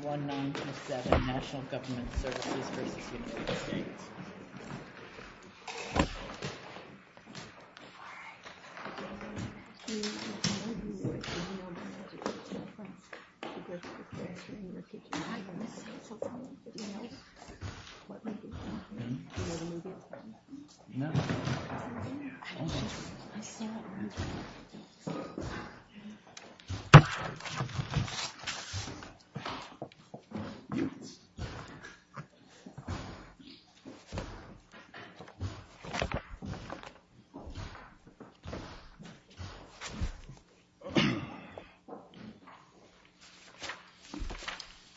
1-927 National Government Services v. United States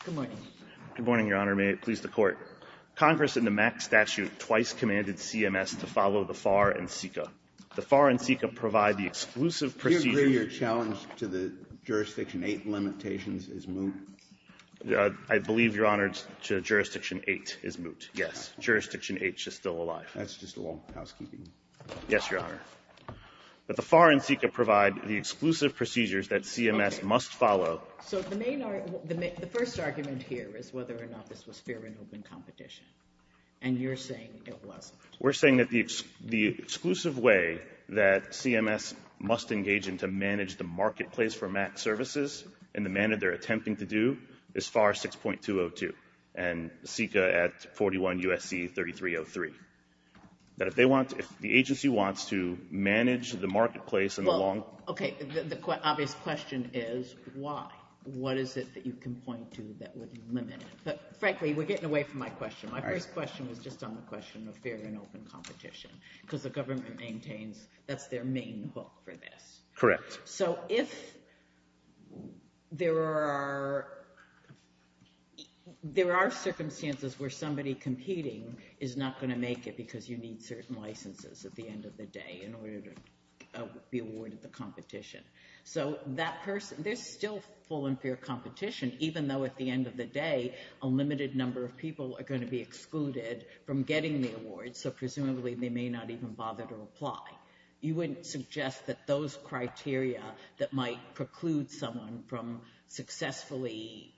Good morning, Your Honor. May it please the Court. Congress, in the MAC statute, twice commanded CMS to follow the FAR and CICA. The FAR and CICA provide the exclusive procedure I believe your challenge to the Jurisdiction 8 limitations is moot. I believe, Your Honor, to Jurisdiction 8 is moot, yes. Jurisdiction 8 is still alive. That's just a long housekeeping. Yes, Your Honor. But the FAR and CICA provide the exclusive procedures that CMS must follow So the main argument, the first argument here is whether or not this was fair and open competition. And you're saying it wasn't. We're saying that the exclusive way that CMS must engage and to manage the marketplace for MAC services in the manner they're attempting to do is FAR 6.202 and CICA at 41 U.S.C. 3303. That if they want, if the agency wants to manage the marketplace in the long Well, okay, the obvious question is why? What is it that you can point to that would limit it? But frankly, we're getting away from my question. My first question was just on the question of fair and open competition because the government maintains that's their main hook for this. Correct. So if there are circumstances where somebody competing is not going to make it because you need certain licenses at the end of the day in order to be awarded the competition. So that person, there's still full and fair competition even though at the end of the day a limited number of people are going to be excluded from getting the award. So presumably they may not even bother to apply. You wouldn't suggest that those criteria that might preclude someone from successfully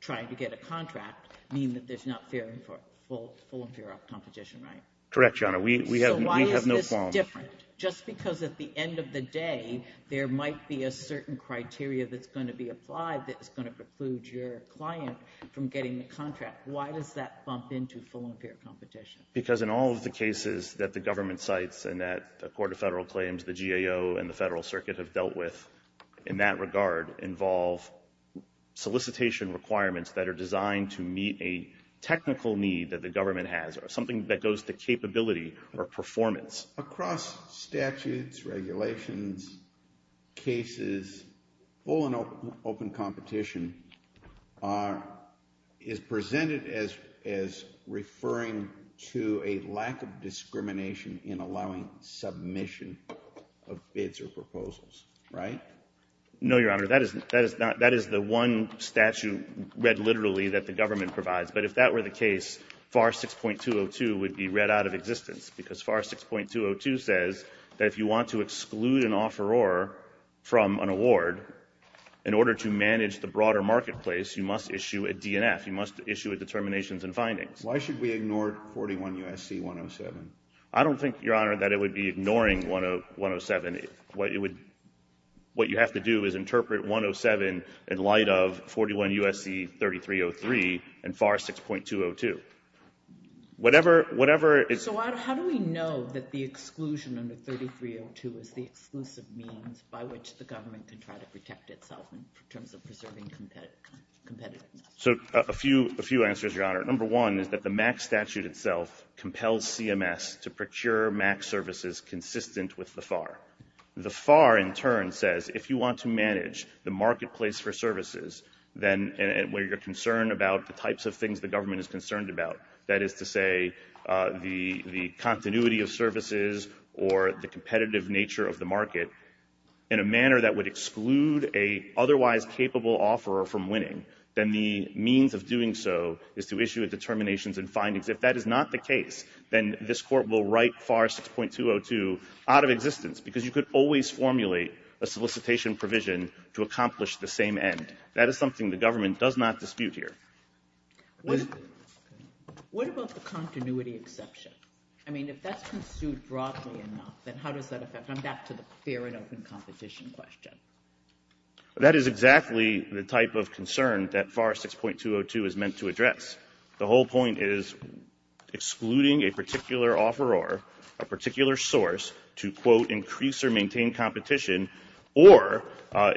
trying to get a contract mean that there's not full and fair competition, right? Correct, Your Honor. We have no qualms. So why is this different? Just because at the end of the day there might be a certain criteria that's going to be applied that's going to preclude your client from getting the contract. Why does that bump into full and fair competition? Because in all of the cases that the government cites and that the Court of Federal Claims, the GAO, and the Federal Circuit have dealt with in that regard involve solicitation requirements that are designed to meet a technical need that the government has or something that goes to capability or performance. Across statutes, regulations, cases, full and open competition is presented as referring to a lack of discrimination in allowing submission of bids or proposals, right? No, Your Honor. That is the one statute read literally that the government provides. But if that were the case, FAR 6.202 would be read out of existence because FAR 6.202 says that if you want to exclude an offeror from an award in order to manage the broader marketplace, you must issue a DNF. You must issue a determinations and findings. Why should we ignore 41 U.S.C. 107? I don't think, Your Honor, that it would be ignoring 107. What you have to do is interpret 107 in light of 41 U.S.C. 3303 and FAR 6.202. Whatever it's... So how do we know that the exclusion under 3302 is the exclusive means by which the government can try to protect itself in terms of preserving competitiveness? So a few answers, Your Honor. Number one is that the MAC statute itself compels CMS to procure MAC services consistent with the FAR. The FAR, in turn, says if you want to manage the marketplace for services, then where you're concerned about the types of things the government is concerned about, that is to say the continuity of services or the competitive nature of the in a manner that would exclude a otherwise capable offeror from winning, then the means of doing so is to issue a determinations and findings. If that is not the case, then this court will write FAR 6.202 out of existence because you could always formulate a solicitation provision to accomplish the same end. That is something the government does not dispute here. What about the continuity exception? I mean, if that's construed broadly enough, then how does that affect... I'm back to the fair and open competition question. That is exactly the type of concern that FAR 6.202 is meant to address. The whole point is excluding a particular offeror, a particular source to, quote, increase or maintain competition or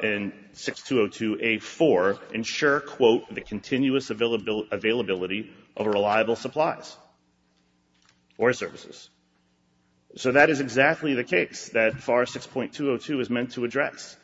in 6.202A4, ensure, quote, the continuous availability of reliable supplies or services. So, that is exactly the case that FAR 6.202 is meant to address.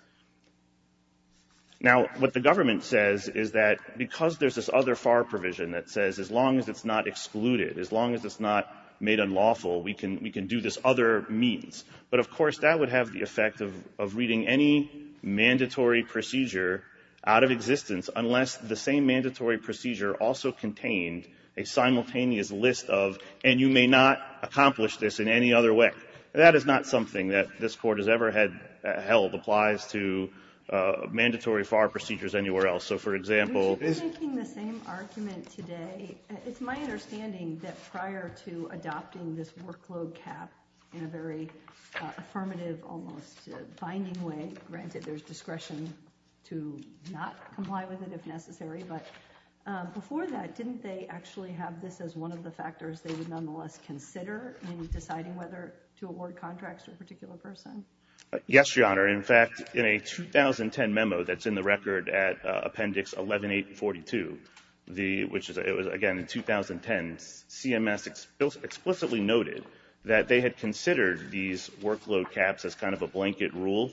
Now, what the government says is that because there's this other FAR provision that says as long as it's not excluded, as long as it's not made unlawful, we can do this other means. But, of course, that would have the effect of reading any mandatory procedure out of existence unless the same FAR provision says that we can't accomplish this in any other way. That is not something that this Court has ever held applies to mandatory FAR procedures anywhere else. So, for example... We should be making the same argument today. It's my understanding that prior to adopting this workload cap in a very affirmative, almost binding way, granted there's discretion to not comply with it if necessary, but before that, didn't they actually have this as one of the factors they would nonetheless consider in deciding whether to award contracts to a particular person? Yes, Your Honor. In fact, in a 2010 memo that's in the record at Appendix 11842, which was again in 2010, CMS explicitly noted that they had considered these workload caps as kind of a blanket rule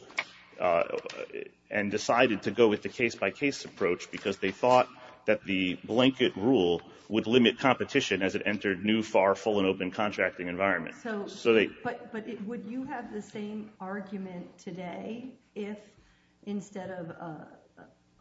and decided to go with the case-by-case approach because they thought that the blanket rule would limit competition as it entered new FAR full and open contracting environment. So, but would you have the same argument today if instead of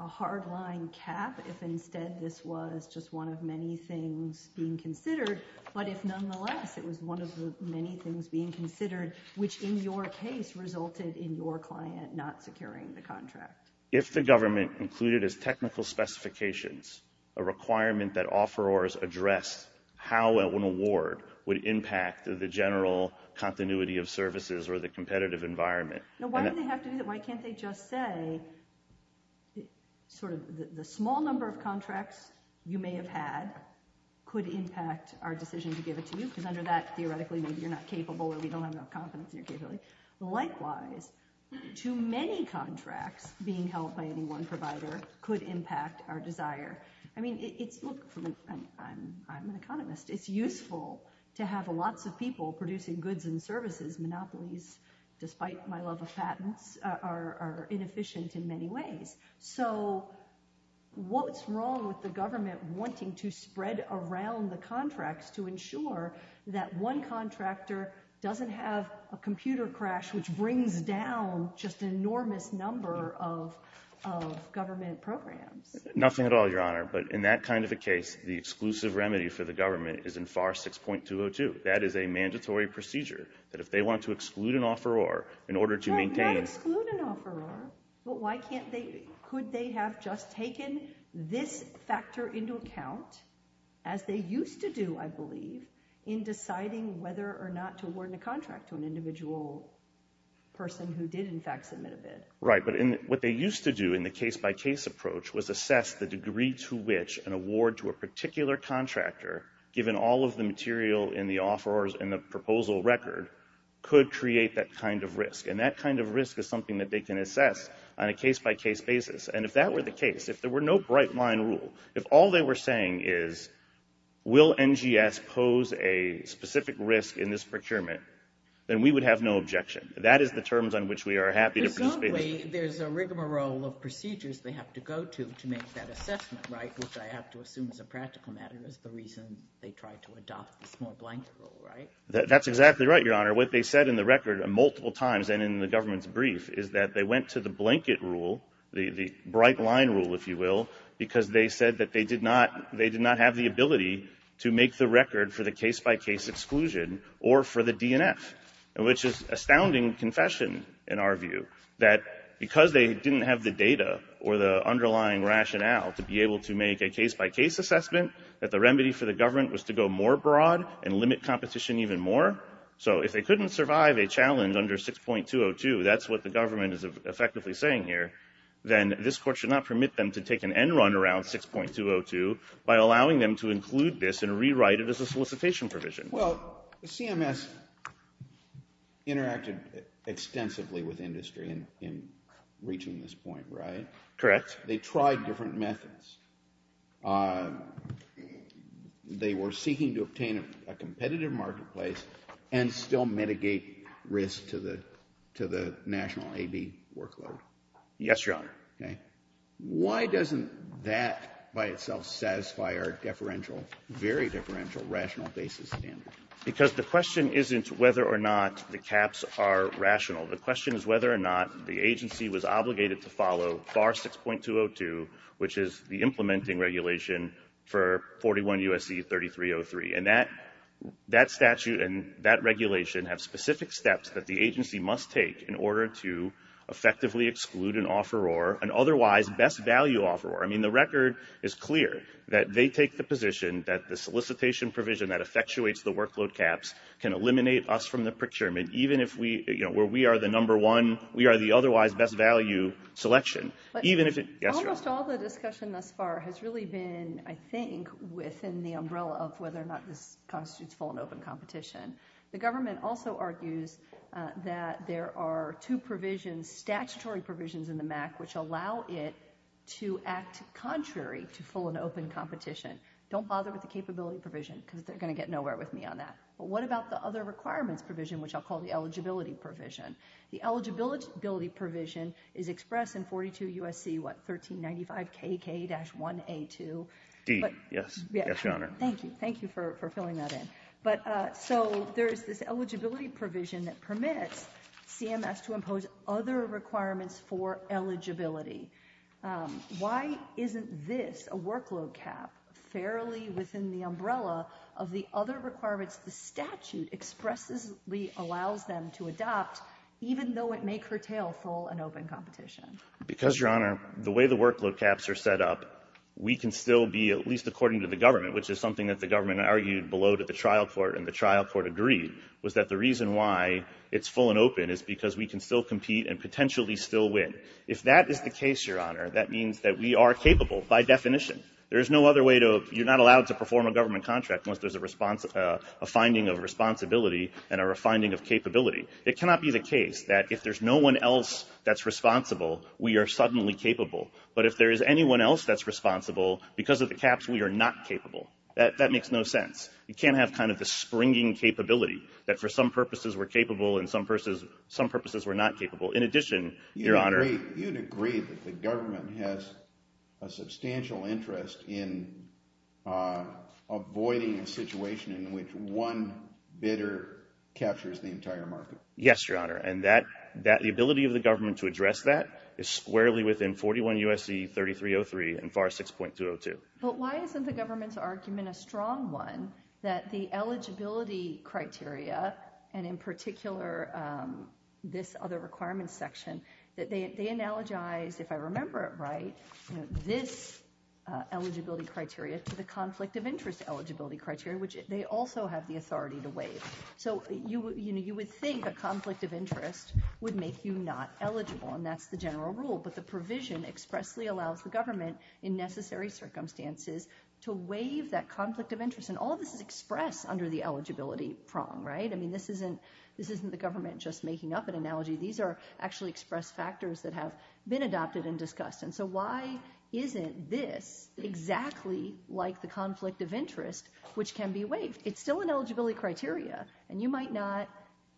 a hard-line cap, if instead this was just one of many things being considered, but if nonetheless it was one of the many things being considered, which in your case resulted in your client not securing the contract? If the government included as technical specifications a requirement that offerors addressed how an award would impact the general continuity of services or the competitive environment. Now, why do they have to do that? Why can't they just say sort of the small number of contracts you may have had could impact our decision to give it to you? Because under that, theoretically, you're not capable or we don't have enough confidence in your capability. Likewise, too many contracts being held by any one provider could impact our desire. I mean, it's, look, I'm an economist. It's useful to have lots of people producing goods and services. Monopolies, despite my love of patents, are inefficient in many ways. So what's wrong with the government wanting to spread around the contracts to ensure that one contractor doesn't have a computer crash, which brings down just an enormous number of government programs? Nothing at all, Your Honor, but in that kind of a case, the exclusive remedy for the government is in FAR 6.202. That is a mandatory procedure that if they want to exclude an offeror in order to maintain... Not exclude an offeror, but why can't they, could they have just taken this factor into account, as they used to do, I believe, in deciding whether or not to award a contract to an individual person who did, in fact, submit a bid? Right, but what they used to do in the case-by-case approach was assess the degree to which an award to a particular contractor, given all of the material in the offerors and the proposal record, could create that kind of risk. And that kind of risk is something that they can assess on a case-by-case basis. And if that were the case, if there were no bright-line rule, if all they were saying is, will NGS pose a specific risk in this procurement, then we would have no objection. That is the terms on which we are happy to participate in this procedure. Presumably, there's a rigmarole of procedures they have to go to, to make that assessment, right, which I have to assume is a practical matter, is the reason they tried to adopt the small-blank rule, right? That's exactly right, Your Honor. What they said in the record multiple times, and in the government's brief, is that they went to the blanket rule, the bright-line rule, if you will, because they said that they did not have the ability to make the record for the case-by-case exclusion or for the DNF, which is astounding confession, in our view, that because they didn't have the data or the underlying rationale to be able to make a case-by-case assessment, that the remedy for the government was to go more broad and limit competition even more. So if they couldn't survive a challenge under 6.202, that's what the government is effectively saying here, then this Court should not permit them to take an end-run around 6.202 by allowing them to include this and rewrite it as a solicitation provision. Well, CMS interacted extensively with industry in reaching this point, right? Correct. They tried different methods. They were seeking to obtain a competitive marketplace and still Yes, Your Honor. Why doesn't that by itself satisfy our deferential, very deferential, rational basis standard? Because the question isn't whether or not the caps are rational. The question is whether or not the agency was obligated to follow FAR 6.202, which is the implementing regulation for 41 U.S.C. 3303. And that statute and that regulation have specific steps that the agency must take in order to effectively exclude an offeror, an otherwise best value offeror. I mean, the record is clear that they take the position that the solicitation provision that effectuates the workload caps can eliminate us from the procurement, even if we, you know, where we are the number one, we are the otherwise best value selection. Even if it Almost all the discussion thus far has really been, I think, within the umbrella of whether or not this constitutes full and open competition. The government also argues that there are two provisions, statutory provisions in the MAC, which allow it to act contrary to full and open competition. Don't bother with the capability provision because they're going to get nowhere with me on that. But what about the other requirements provision, which I'll call the eligibility provision? The eligibility provision is expressed in 42 U.S.C. what, 1395 KK-1A2? D, yes. Yes, Your Honor. Thank you. Thank you for filling that in. But so there's this eligibility provision that permits CMS to impose other requirements for eligibility. Why isn't this a workload cap fairly within the umbrella of the other requirements the statute expressly allows them to adopt, even though it may curtail full and open competition? Because Your Honor, the way the workload caps are set up, we can still be at least according to the government, which is something that the government argued below to the trial court and the trial court agreed, was that the reason why it's full and open is because we can still compete and potentially still win. If that is the case, Your Honor, that means that we are capable by definition. There is no other way to, you're not allowed to perform a government contract unless there's a finding of responsibility and a finding of capability. It cannot be the case that if there's no one else that's responsible, we are suddenly capable. But if there is anyone else that's responsible, because of the caps, we are not capable. That makes no sense. You can't have kind of the springing capability that for some purposes we're capable and some purposes we're not capable. In addition, Your Honor. You'd agree that the government has a substantial interest in avoiding a situation in which one bidder captures the entire market. Yes, Your Honor. And that, the ability of the government to address that is squarely within 41 U.S.C. 3303 and FAR 6.202. But why isn't the government's argument a strong one that the eligibility criteria, and in particular this other requirements section, that they analogize, if I remember it right, this eligibility criteria to the conflict of interest eligibility criteria, which they also have the authority to waive. So you would think a conflict of interest would make you not eligible, and that's the general rule. But the provision expressly allows the government, in necessary circumstances, to waive that conflict of interest. And all this is expressed under the eligibility prong, right? I mean, this isn't the government just making up an analogy. These are actually expressed factors that have been adopted and discussed. And so why isn't this exactly like the conflict of interest, which can be waived? It's still an eligibility criteria, and you might not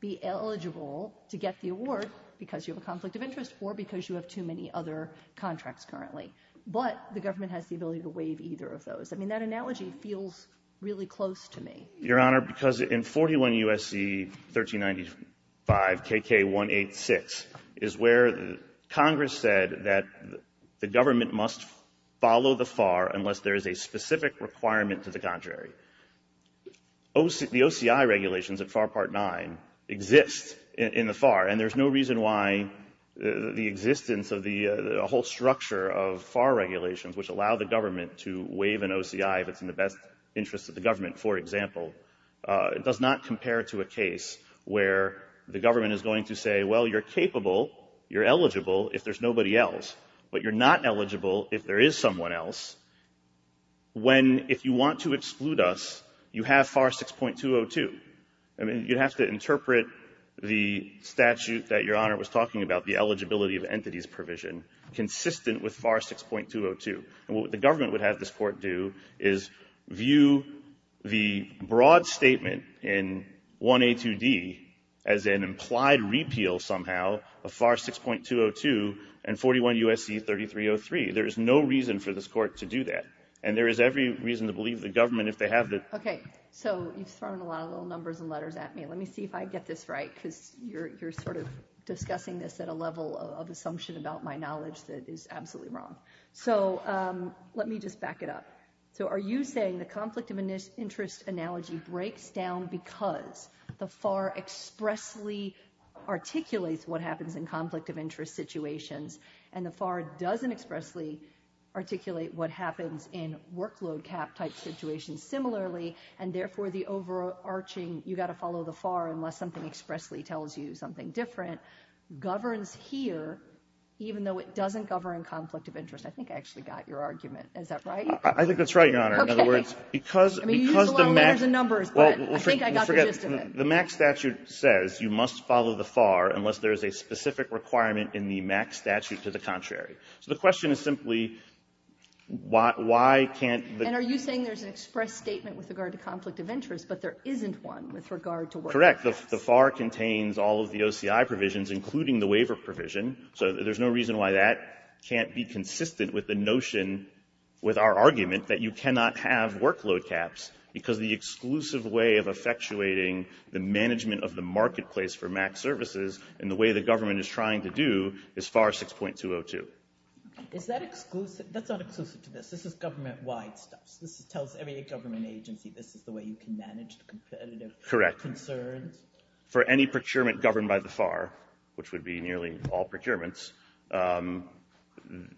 be eligible to get the award because you have a conflict of interest or because you have too many other contracts currently. But the government has the ability to waive either of those. I mean, that analogy feels really close to me. Your Honor, because in 41 U.S.C. 1395 KK 186 is where Congress said that the government must follow the FAR unless there is a specific requirement to the contrary. The OCI regulations of FAR Part 9 exist in the FAR, and there's no reason why the existence of the whole structure of FAR regulations, which allow the government to waive an OCI if it's in the best interest of the government, for example, does not compare to a case where the government is going to say, well, you're capable, you're eligible if there's nobody else, but you're not eligible if there is someone else, when, if you want to exclude us, you have FAR 6.202. I mean, you'd have to interpret the statute that Your Honor was talking about, the eligibility of entities provision, consistent with FAR 6.202. And what the government would have this Court do is view the broad statement in 1A2D as an implied repeal of FAR 6.202. Well, somehow, a FAR 6.202 and 41 U.S.C. 3303, there is no reason for this Court to do that. And there is every reason to believe the government, if they have the... Okay. So you've thrown a lot of little numbers and letters at me. Let me see if I get this right, because you're sort of discussing this at a level of assumption about my knowledge that is absolutely wrong. So let me just back it up. So are you saying the conflict of interest analogy breaks down because the FAR expressly articulates what happens in conflict of interest situations, and the FAR doesn't expressly articulate what happens in workload cap type situations similarly, and therefore, the overarching, you've got to follow the FAR unless something expressly tells you something different, governs here, even though it doesn't govern conflict of interest? I think I actually got your argument. Is that right? I think that's right, Your Honor. In other words, because... I mean, you used a lot of letters and numbers, but I think I got the gist of it. The MAC statute says you must follow the FAR unless there is a specific requirement in the MAC statute to the contrary. So the question is simply, why can't the... And are you saying there's an express statement with regard to conflict of interest, but there isn't one with regard to workload caps? Correct. The FAR contains all of the OCI provisions, including the waiver provision. So there's no reason why that can't be consistent with the notion, with our argument, that you cannot have workload caps, because the exclusive way of effectuating the management of the marketplace for MAC services, and the way the government is trying to do, is FAR 6.202. Is that exclusive? That's not exclusive to this. This is government-wide stuff. This tells every government agency this is the way you can manage the competitive concerns. Correct. For any procurement governed by the FAR, which would be nearly all procurements,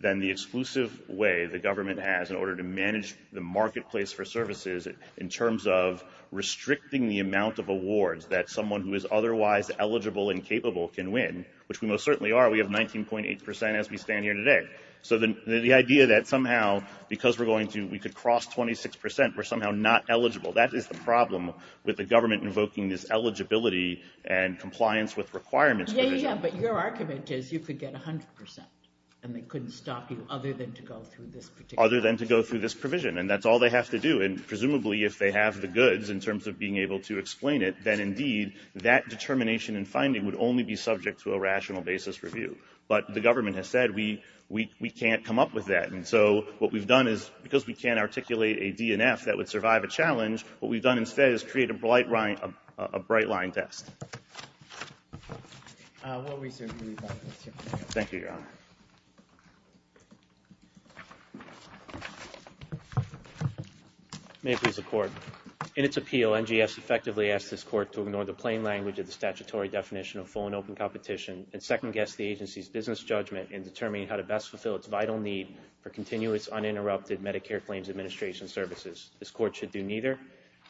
then the exclusive way the government has in order to manage the marketplace for services in terms of restricting the amount of awards that someone who is otherwise eligible and capable can win, which we most certainly are. We have 19.8% as we stand here today. So the idea that somehow, because we're going to, we could cross 26%, we're somehow not eligible. That is the problem with the government invoking this eligibility and compliance with requirements provision. Yeah, yeah. But your argument is you could get 100%. And they couldn't stop you other than to go through this particular... Other than to go through this provision. And that's all they have to do. And presumably, if they have the goods in terms of being able to explain it, then indeed, that determination and finding would only be subject to a rational basis review. But the government has said, we can't come up with that. And so what we've done is, because we can't articulate a DNF that would survive a challenge, what we've done instead is create a bright line test. Thank you, Your Honor. May it please the Court. In its appeal, NGS effectively asked this Court to ignore the plain language of the statutory definition of full and open competition and second-guess the agency's business judgment in determining how to best fulfill its vital need for continuous, uninterrupted Medicare claims administration services. This Court should do neither.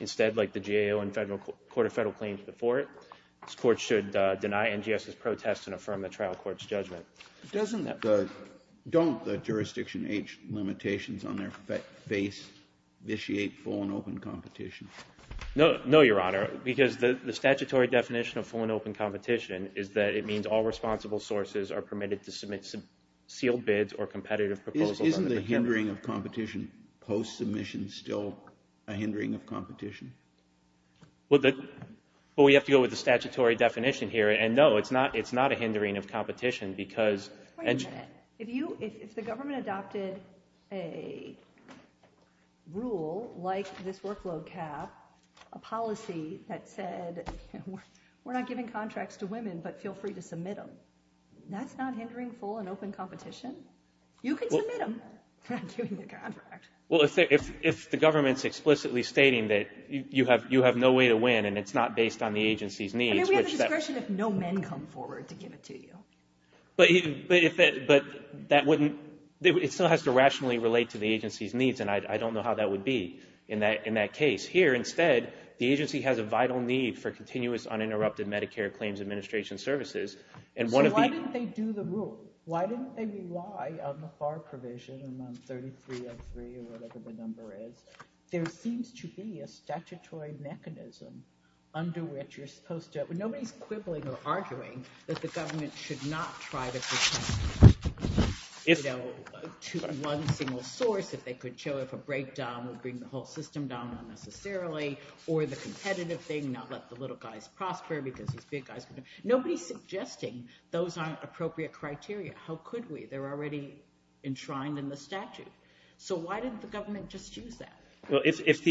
Instead, like the GAO and the Court of Federal Claims before it, this Court should deny NGS's protest and affirm the trial court's judgment. Don't the jurisdiction age limitations on their face vitiate full and open competition? No, Your Honor, because the statutory definition of full and open competition is that it means all responsible sources are permitted to submit sealed bids or competitive proposals. Isn't the hindering of competition post-submission still a hindering of competition? Well, we have to go with the statutory definition here, and no, it's not a hindering of competition because... Wait a minute. If the government adopted a rule like this workload cap, a policy that said, we're not giving contracts to women, but feel free to submit them, that's not hindering full and open competition? You can submit them. We're not giving the contract. Well, if the government's explicitly stating that you have no way to win and it's not based on the agency's needs... I mean, we have the discretion if no men come forward to give it to you. But it still has to rationally relate to the agency's needs, and I don't know how that would be in that case. Here, instead, the agency has a vital need for continuous, uninterrupted Medicare claims administration services, and one of the... So why didn't they do the rule? Why didn't they rely on the FAR provision and on 3303 or whatever the number is? There seems to be a statutory mechanism under which you're supposed to... Nobody's quibbling or arguing that the government should not try to pretend to be one single source if they could show if a breakdown would bring the whole system down unnecessarily, or the competitive thing, not let the little guys prosper because nobody's suggesting those aren't appropriate criteria. How could we? They're already enshrined in the statute. So why didn't the government just use that? Well, if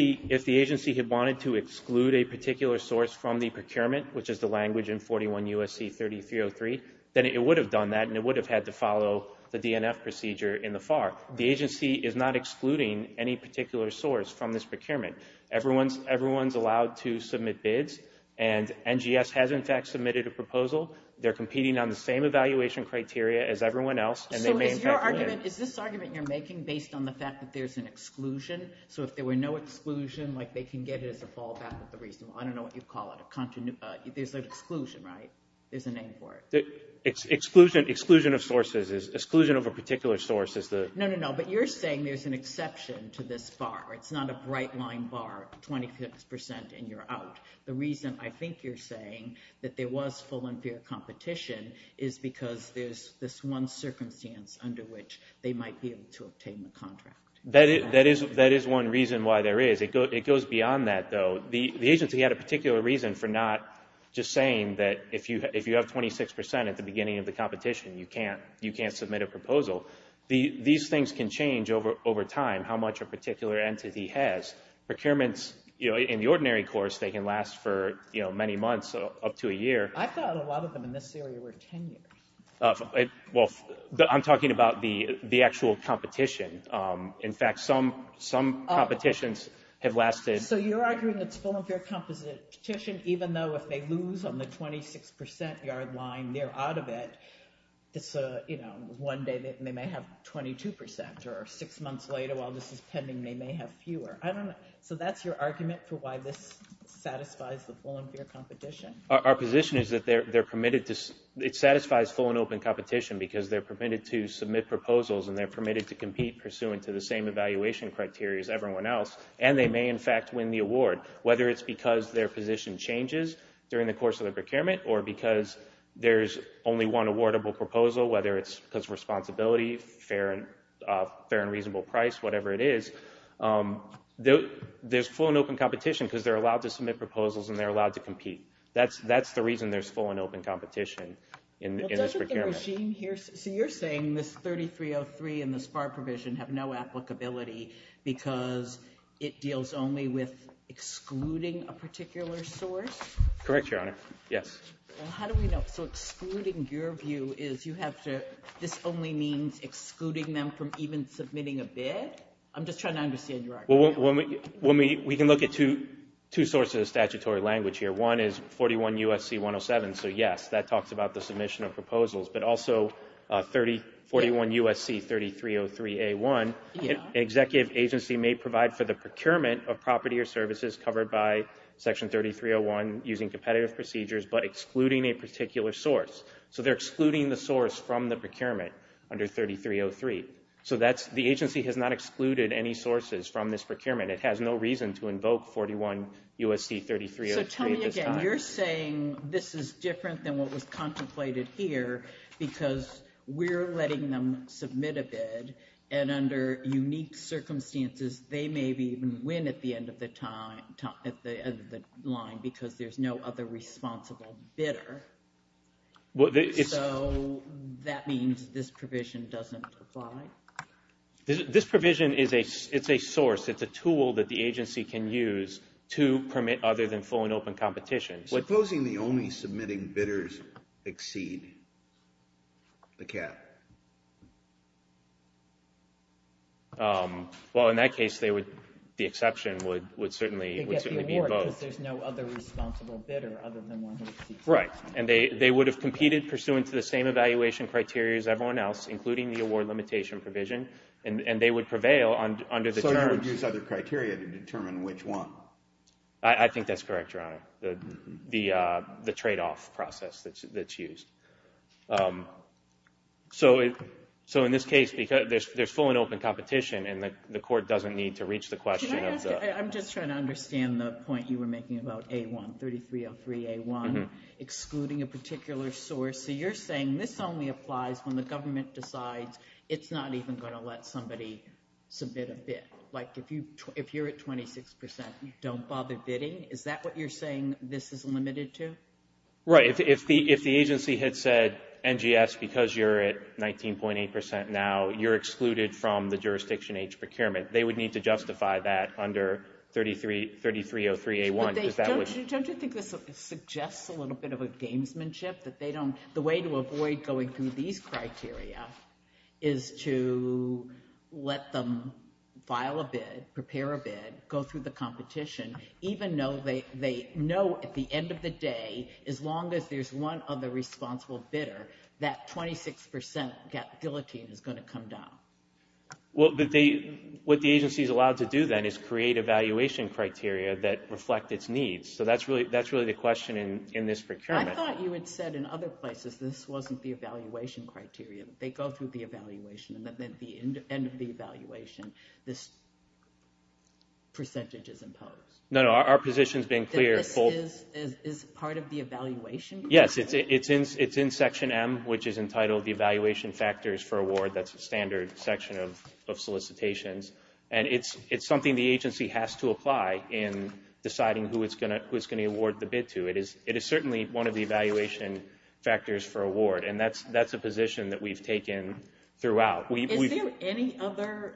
the agency had wanted to exclude a particular source from the procurement, which is the language in 41 U.S.C. 3303, then it would have done that, and it would have had to follow the DNF procedure in the FAR. The agency is not excluding any particular source from this proposal. They're competing on the same evaluation criteria as everyone else. So is this argument you're making based on the fact that there's an exclusion? So if there were no exclusion, they can get it as a fallback of the reasonable? I don't know what you'd call it. There's an exclusion, right? There's a name for it. Exclusion of sources. Exclusion of a particular source is the... No, no, no. But you're saying there's an exception to this FAR. It's not a bright line FAR, 26% and you're out. The reason I think you're saying that there was full and fair competition is because there's this one circumstance under which they might be able to obtain the contract. That is one reason why there is. It goes beyond that, though. The agency had a particular reason for not just saying that if you have 26% at the beginning of the competition, you can't submit a proposal. These things can change over time, how much a particular entity has. Procurements in the ordinary course, they can last for many months, up to a year. I thought a lot of them in this area were 10 years. Well, I'm talking about the actual competition. In fact, some competitions have lasted... So you're arguing it's full and fair competition, even though if they lose on the 26% yard line, they're out of it. One day they may have 22% or six months later, while this is pending, they may have fewer. I don't know. So that's your argument for why this satisfies the full and fair competition. Our position is that it satisfies full and open competition because they're permitted to submit proposals and they're permitted to compete pursuant to the same evaluation criteria as everyone else, and they may in fact win the award. Whether it's because their position changes during the course of the procurement or because there's only one awardable proposal, whether it's because of responsibility, fair and reasonable price, whatever it is, there's full and open competition because they're allowed to submit proposals and they're allowed to compete. That's the reason there's full and open competition in this procurement. So you're saying this 3303 and the SPAR provision have no applicability because it deals only with excluding a particular source? Correct, Your Honor. Yes. How do we know? So excluding your view is you have to... This only means excluding them from even submitting a bid? I'm just trying to understand your argument. Well, we can look at two sources of statutory language here. One is 41 U.S.C. 107, so yes, that talks about the submission of proposals, but also 41 U.S.C. 3303 A1, an executive agency may provide for the procurement of property or services covered by Section 3301 using competitive procedures but excluding a particular source. So they're excluding the source from the procurement under 3303. So the agency has not excluded any sources from this procurement. It has no reason to invoke 41 U.S.C. 3303 at this time. So tell me again, you're saying this is different than what was contemplated here because we're letting them submit a bid and under unique circumstances they may even win at the end of the line because there's no other responsible bidder. So that means this provision doesn't apply? This provision is a source. It's a tool that the agency can use to permit other than full and open competition. Supposing the only submitting bidders exceed the cap? Well, in that case, the exception would certainly be both. Because there's no other responsible bidder other than one who exceeds the cap. Right, and they would have competed pursuant to the same evaluation criteria as everyone else, including the award limitation provision, and they would prevail under the terms. So you would use other criteria to determine which one? I think that's correct, Your Honor, the trade-off process that's used. So in this case, there's full and open competition and the court doesn't need to reach the question. I'm just trying to understand the point you were making about A1, 3303 A1, excluding a particular source. So you're saying this only applies when the government decides it's not even going to let somebody submit a bid. Like if you're at 26%, you don't bother bidding? Is that what you're saying this is limited to? Right, if the agency had said NGS, because you're at 19.8% now, you're excluded from the jurisdiction H procurement. They would need to justify that under 3303 A1. Don't you think this suggests a little bit of a gamesmanship, that the way to avoid going through these criteria is to let them file a bid, prepare a bid, go through the competition, even though they know at the end of the day, as long as there's one other responsible bidder, that 26% guillotine is going to come down? Well, what the agency is allowed to do then is create evaluation criteria that reflect its needs. So that's really the question in this procurement. I thought you had said in other places, this wasn't the evaluation criteria. They go through the evaluation and then at the end of the evaluation, this is part of the evaluation? Yes, it's in section M, which is entitled the evaluation factors for award. That's a standard section of solicitations. And it's something the agency has to apply in deciding who it's going to award the bid to. It is certainly one of the evaluation factors for award. And that's a position that we've taken throughout. Is there any other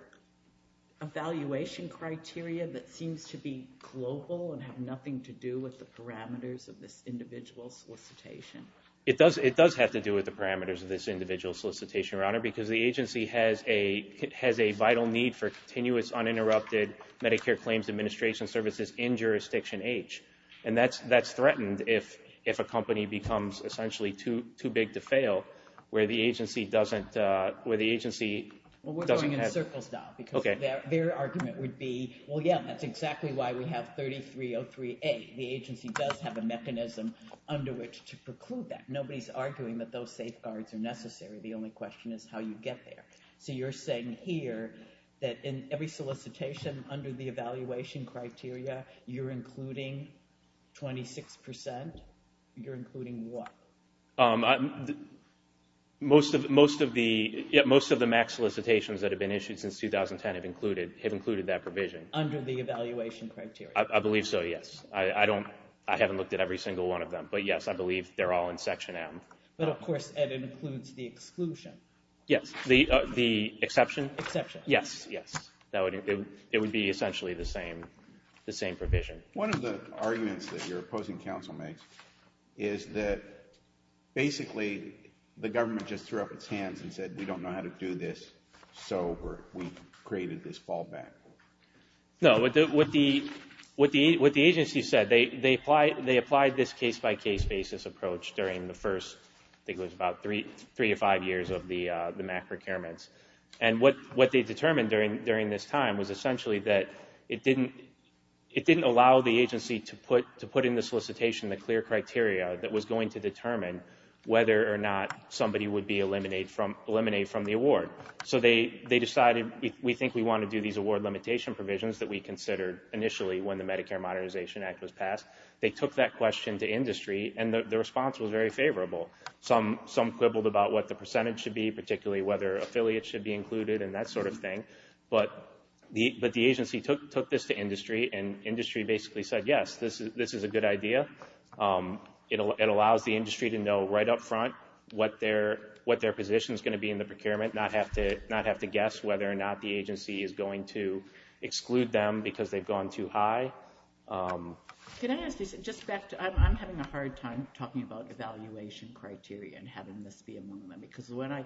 evaluation criteria that seems to be global and have nothing to do with the parameters of this individual solicitation? It does have to do with the parameters of this individual solicitation, Your Honor, because the agency has a vital need for continuous uninterrupted Medicare claims administration services in jurisdiction H. And that's threatened if a company becomes essentially too big to fail where the agency doesn't... We're going in circles now because their argument would be, well, yeah, that's exactly why we have 3303A. The agency does have a mechanism under which to preclude that. Nobody's arguing that those safeguards are necessary. The only question is how you get there. So you're saying here that in every solicitation under the evaluation criteria, you're including 26%? You're including what? Most of the max solicitations that have been issued since 2010 have included that provision. Under the evaluation criteria? I believe so, yes. I haven't looked at every single one of them. But yes, I believe they're all in section M. But of course, it includes the exclusion. Yes. The exception? Exception. Yes, yes. It would be essentially the same provision. One of the arguments that your opposing counsel makes is that basically the government just threw up its hands and said, we don't know how to do this. So we created this fallback. No, what the agency said, they applied this case-by-case basis approach during the first, I think it was about three or five years of the MAC procurements. And what they determined during this time was essentially that it didn't allow the agency to put in the solicitation the clear criteria that was going to determine whether or not somebody would be eliminated from the award. So they decided, we think we want to do these award limitation provisions that we considered initially when the Medicare Modernization Act was passed. They took that question to industry, and the response was very favorable. Some quibbled about what the percentage should be, particularly whether affiliates should be included and that sort of thing. But the agency took this to industry, and industry basically said, yes, this is a good idea. It allows the industry to know right up front what their position is going to be in the procurement, not have to guess whether or not the agency is going to exclude them because they've gone too high. I'm having a hard time talking about evaluation criteria and having this be among them because when I,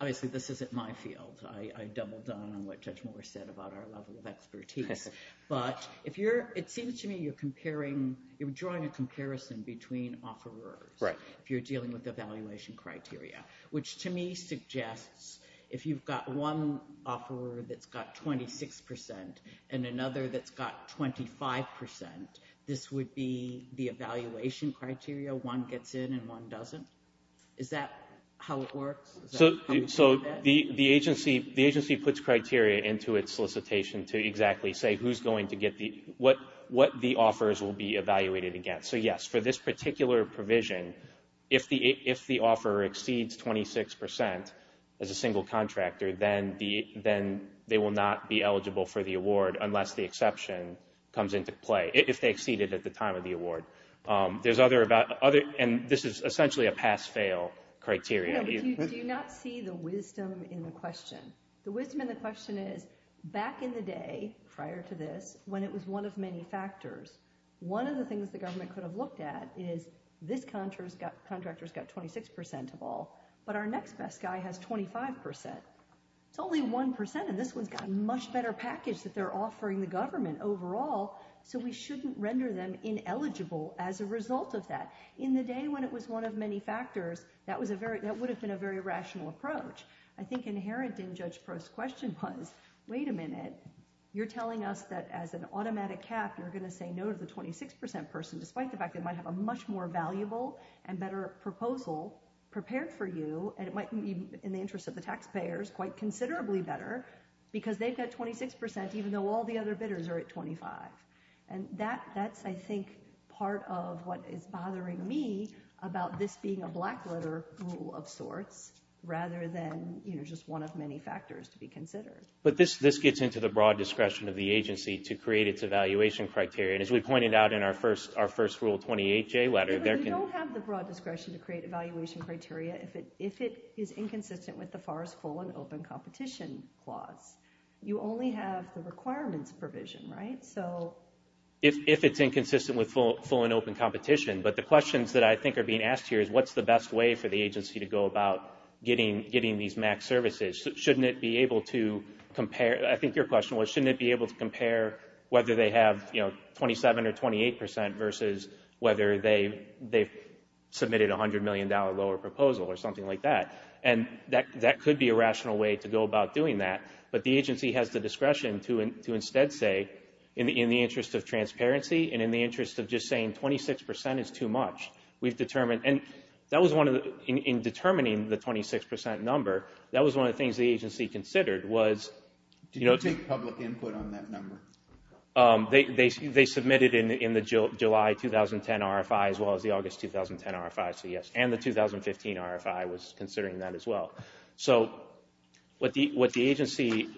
obviously this isn't my field. I doubled down on what Judge Moore said about our level of expertise. But if you're, it seems to me you're comparing, you're drawing a comparison between offerers. Right. If you're dealing with evaluation criteria, which to me suggests if you've got one offer that's got 26% and another that's got 25%, this would be the evaluation criteria. One gets in and one doesn't. Is that how it works? So the agency puts criteria into its solicitation to exactly say who's going to get the, what the offers will be evaluated against. So yes, for this particular provision, if the offer exceeds 26% as a single contractor, then they will not be eligible for the award unless the exception comes into play, if they exceeded at the time of the award. There's other, and this is essentially a pass-fail criteria. You do not see the wisdom in the question. The wisdom in the question is back in the day prior to this, when it was one of many factors, one of the things the government could have looked at is this contractor's got 26% of all, but our next best guy has 25%. It's only 1% and this one's got a much better package that they're offering the government overall, so we shouldn't render them ineligible as a result of that. In the day when it was one of many factors, that was a very, that would have been a very rational approach. I think inherent in Judge Prost's question was, wait a minute, you're telling us that as an automatic cap, you're going to say no to the 26% person, despite the fact they might have a much more valuable and better proposal prepared for you, and it might be in the all the other bidders are at 25%. That's, I think, part of what is bothering me about this being a black-letter rule of sorts, rather than just one of many factors to be considered. But this gets into the broad discretion of the agency to create its evaluation criteria, and as we pointed out in our first Rule 28J letter, there can... You don't have the broad discretion to create evaluation criteria if it is inconsistent with FAR's full and open competition clause. You only have the requirements provision, right? So... If it's inconsistent with full and open competition, but the questions that I think are being asked here is, what's the best way for the agency to go about getting these max services? Shouldn't it be able to compare, I think your question was, shouldn't it be able to compare whether they have 27% or 28% versus whether they've submitted a $100 million lower proposal or something like that? And that could be a rational way to go about doing that, but the agency has the discretion to instead say, in the interest of transparency and in the interest of just saying 26% is too much, we've determined... And that was one of the... In determining the 26% number, that was one of the things the agency considered was... Did you take public input on that number? They submitted in the July 2010 RFI as well as the August 2010 RFI, so yes, and the 2015 RFI was considering that as well. So what the agency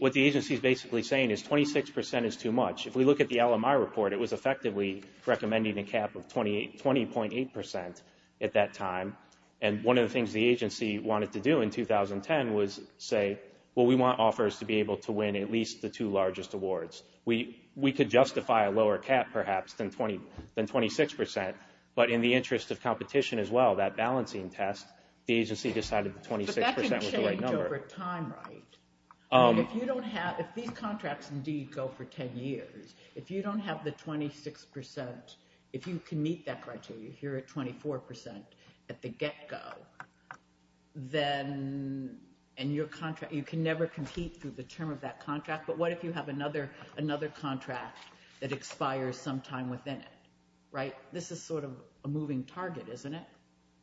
is basically saying is 26% is too much. If we look at the LMI report, it was effectively recommending a cap of 20.8% at that time, and one of the things the agency wanted to do in 2010 was say, well, we want offers to be able to at least the two largest awards. We could justify a lower cap perhaps than 26%, but in the interest of competition as well, that balancing test, the agency decided 26% was the right number. But that can change over time, right? If you don't have... If these contracts indeed go for 10 years, if you don't have the 26%, if you can meet that criteria, if you're at 24% at the get-go, then... And your contract... You can never compete through the term of that contract, but what if you have another contract that expires sometime within it, right? This is sort of a moving target, isn't it?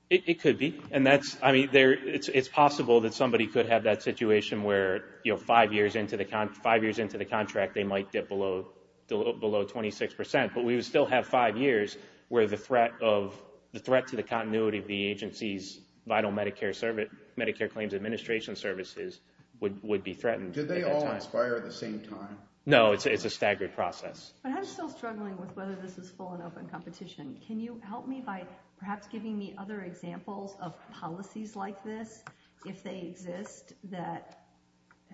It could be, and that's... I mean, it's possible that somebody could have that situation where five years into the contract, they might get below 26%, but we would still have five years where the threat to the continuity of the agency's vital Medicare claims administration services would be threatened. Did they all expire at the same time? No, it's a staggered process. But I'm still struggling with whether this is full and open competition. Can you help me by perhaps giving me other examples of policies like this, if they exist, that...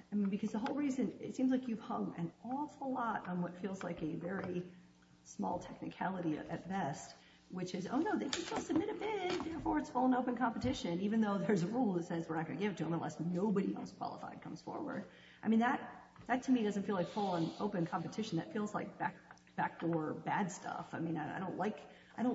I mean, because the whole reason... It seems like you've hung an awful lot on what feels like a very full and open competition, even though there's a rule that says we're not going to give to them unless nobody else qualified comes forward. I mean, that to me doesn't feel like full and open competition. That feels like backdoor bad stuff. I mean, I don't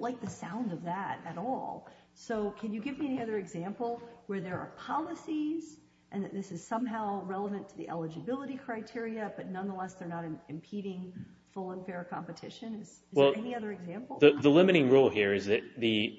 like the sound of that at all. So can you give me any other example where there are policies and that this is somehow relevant to the eligibility criteria, but nonetheless, they're not impeding full and fair competition? Is there any other example? The limiting rule here is that the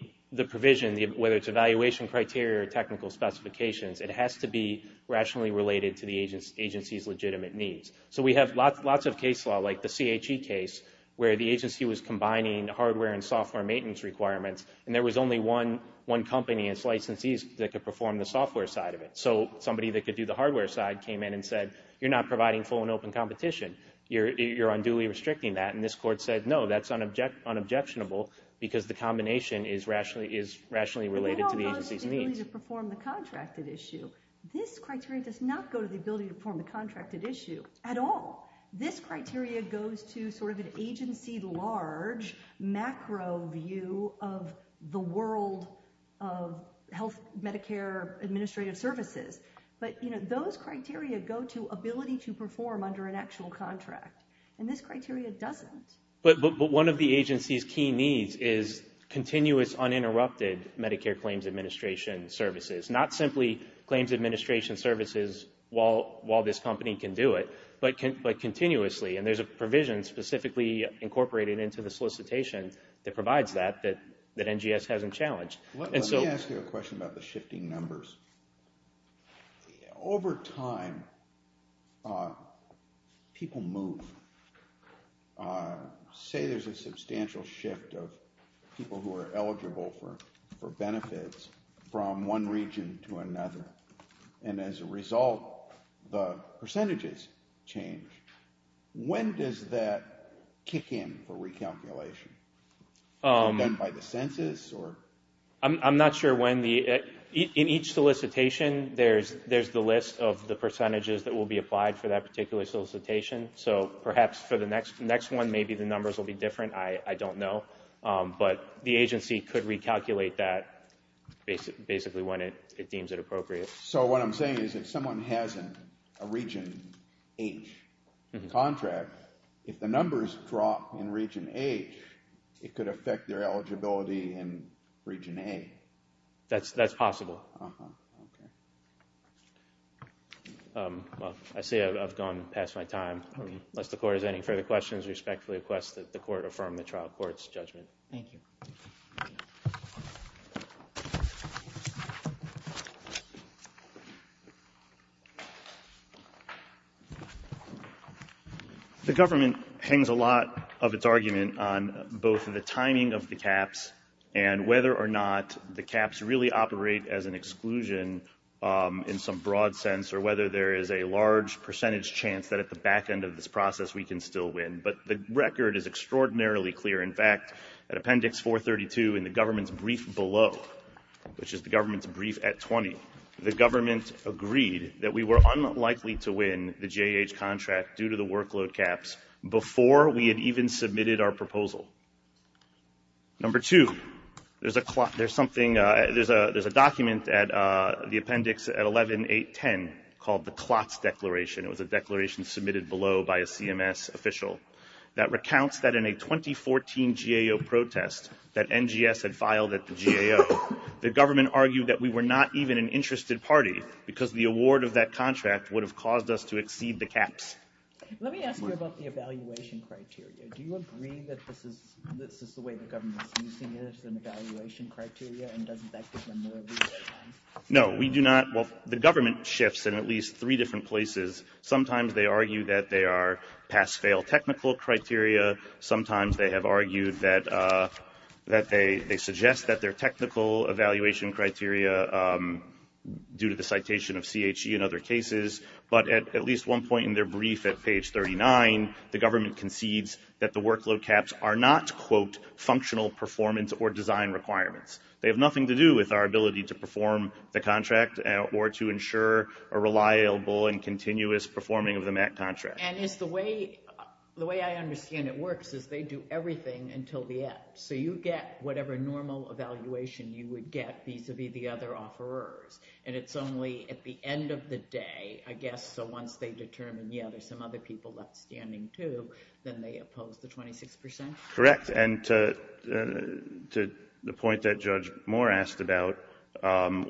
provision, whether it's evaluation criteria or technical specifications, it has to be rationally related to the agency's legitimate needs. So we have lots of case law, like the CHE case, where the agency was combining hardware and software maintenance requirements, and there was only one company and its licensees that could perform the software side of it. So somebody that could do the hardware side came in and said, you're not providing full and open competition. You're unduly restricting that. And this court said, no, that's an unobjectionable because the combination is rationally related to the agency's needs. But they don't go to the ability to perform the contracted issue. This criteria does not go to the ability to perform the contracted issue at all. This criteria goes to sort of an agency-large macro view of the world of health Medicare administrative services. But those criteria go to ability to perform under an actual contract. And this criteria doesn't. But one of the agency's key needs is continuous uninterrupted Medicare claims administration services, not simply claims administration services while this company can do it, but continuously. And there's a provision specifically incorporated into the solicitation that provides that that NGS hasn't challenged. Let me ask you a question about the shifting numbers. Over time, people move. Say there's a substantial shift of people who are eligible for benefits from one region to another. And as a result, the percentages change. When does that kick in for recalculation? Is it done by the census or? I'm not sure when. In each solicitation, there's the list of the percentages that will be applied for that particular solicitation. So perhaps for the next one, maybe the numbers will be different. I don't know. But the agency could recalculate that basically when it deems it appropriate. So what I'm saying is if someone has a Region H contract, if the numbers drop in Region H, it could affect their eligibility in Region A. That's possible. Well, I say I've gone past my time. Unless the court has any further questions, respectfully request that the court affirm the trial court's judgment. Thank you. Thank you. The government hangs a lot of its argument on both the timing of the caps and whether or not the caps really operate as an exclusion in some broad sense or whether there is a large percentage chance that at the back end of this process, we can still win. But the record is extraordinarily clear. In fact, at Appendix 432 in the government's brief below, which is the government's brief at 20, the government agreed that we were unlikely to win the JH contract due to the workload caps before we had even submitted our proposal. Number two, there's a document at the appendix at 11.8.10 called the Klotz Declaration. It was a declaration submitted below by a CMS official that recounts in a 2014 GAO protest that NGS had filed at the GAO. The government argued that we were not even an interested party because the award of that contract would have caused us to exceed the caps. Let me ask you about the evaluation criteria. Do you agree that this is the way the government's using it as an evaluation criteria and doesn't that get removed? No, we do not. Well, the government shifts in at least three different places. Sometimes they argue that they are pass-fail technical criteria. Sometimes they have argued that they suggest that they're technical evaluation criteria due to the citation of CHE and other cases. But at least one point in their brief at page 39, the government concedes that the workload caps are not, quote, functional performance or design requirements. They have nothing to do with our ability to perform the contract or to ensure a reliable and continuous performing of the MAC contract. And is the way, the way I understand it works is they do everything until the end. So you get whatever normal evaluation you would get vis-a-vis the other offerers. And it's only at the end of the day, I guess, so once they determine, yeah, there's some other people left standing too, then they oppose the 26 percent? Correct. And to the point that Judge Moore asked about,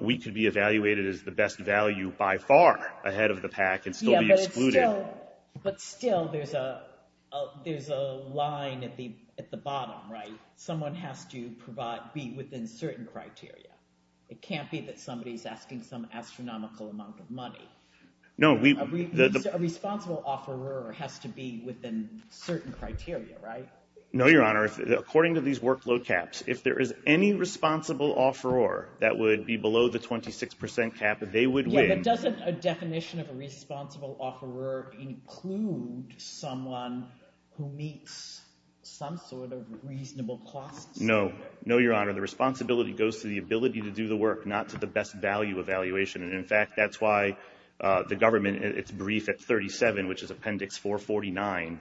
we could be evaluated as the best value by far ahead of the pack and still be excluded. But still, there's a line at the bottom, right? Someone has to provide, be within certain criteria. It can't be that somebody is asking some astronomical amount of money. No, we... A responsible offerer has to be within certain criteria, right? No, Your Honor. According to these workload caps, if there is any responsible offerer that would be below the 26 percent cap, they would win. Yeah, but doesn't a definition of a responsible offerer include someone who meets some sort of reasonable costs? No. No, Your Honor. The responsibility goes to the ability to do the work, not to the best value evaluation. And in fact, that's why the government, it's brief at 37, which is Appendix 449.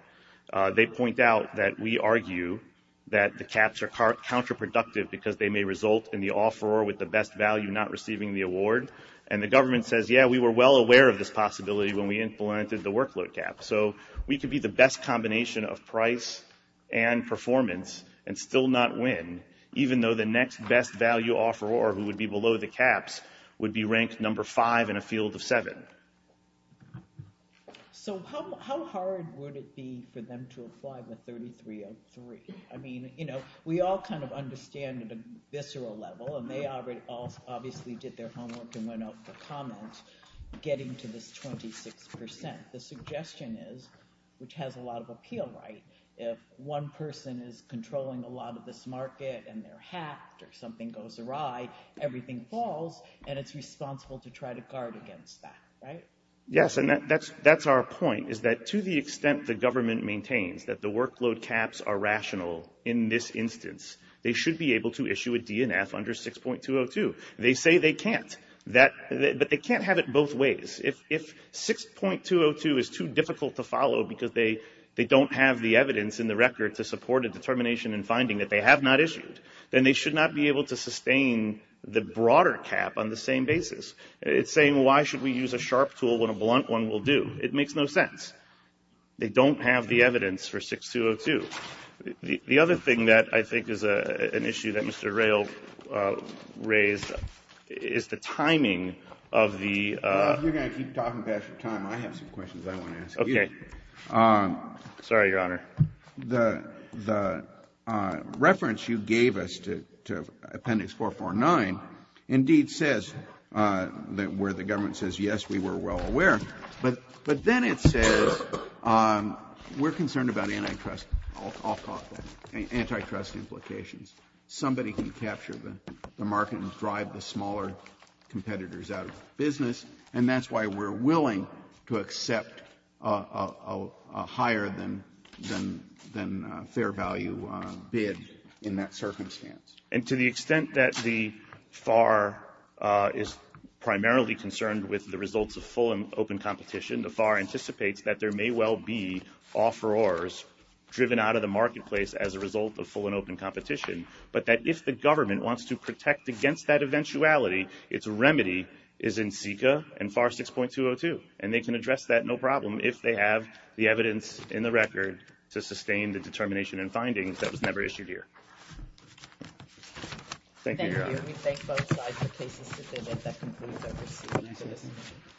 They point out that we argue that the caps are counterproductive because they may result in the offerer with the best value not receiving the award. And the government says, yeah, we were well aware of this possibility when we implemented the workload cap. So we could be the best combination of price and performance and still not win, even though the next best value offerer who would be below the caps would be ranked number five in a field of seven. Right. So how hard would it be for them to apply the 3303? I mean, you know, we all kind of understand at a visceral level, and they obviously did their homework and went off the comments, getting to this 26 percent. The suggestion is, which has a lot of appeal, right? If one person is controlling a lot of this market and they're hacked or something goes awry, everything falls, and it's responsible to try to guard against that, right? Yes. And that's our point, is that to the extent the government maintains that the workload caps are rational in this instance, they should be able to issue a DNF under 6.202. They say they can't, but they can't have it both ways. If 6.202 is too difficult to follow because they don't have the evidence in the record to support a determination and finding that they have not issued, then they should not be able to sustain the broader cap on the same basis. It's saying, well, why should we use a sharp tool when a blunt one will do? It makes no sense. They don't have the evidence for 6.202. The other thing that I think is an issue that Mr. Rayl raised is the timing of the — Well, if you're going to keep talking about it for time, I have some questions I want to ask you. Okay. Sorry, Your Honor. The reference you gave us to Appendix 449 indeed says where the government says, yes, we were well aware, but then it says we're concerned about antitrust, I'll call it that, antitrust implications. Somebody can capture the market and drive the smaller competitors out of business, and that's why we're willing to accept a higher-than-fair-value bid in that circumstance. And to the extent that the FAR is primarily concerned with the results of full and open competition, the FAR anticipates that there may well be offerors driven out of the marketplace as a result of full and open competition, but that if the government wants to protect against that eventuality, its remedy is in CICA and FAR 6.202, and they can address that no problem if they have the evidence in the record to sustain the determination and findings that was never issued here. Thank you, Your Honor. Thank you. We thank both sides for cases today that that concludes our proceedings.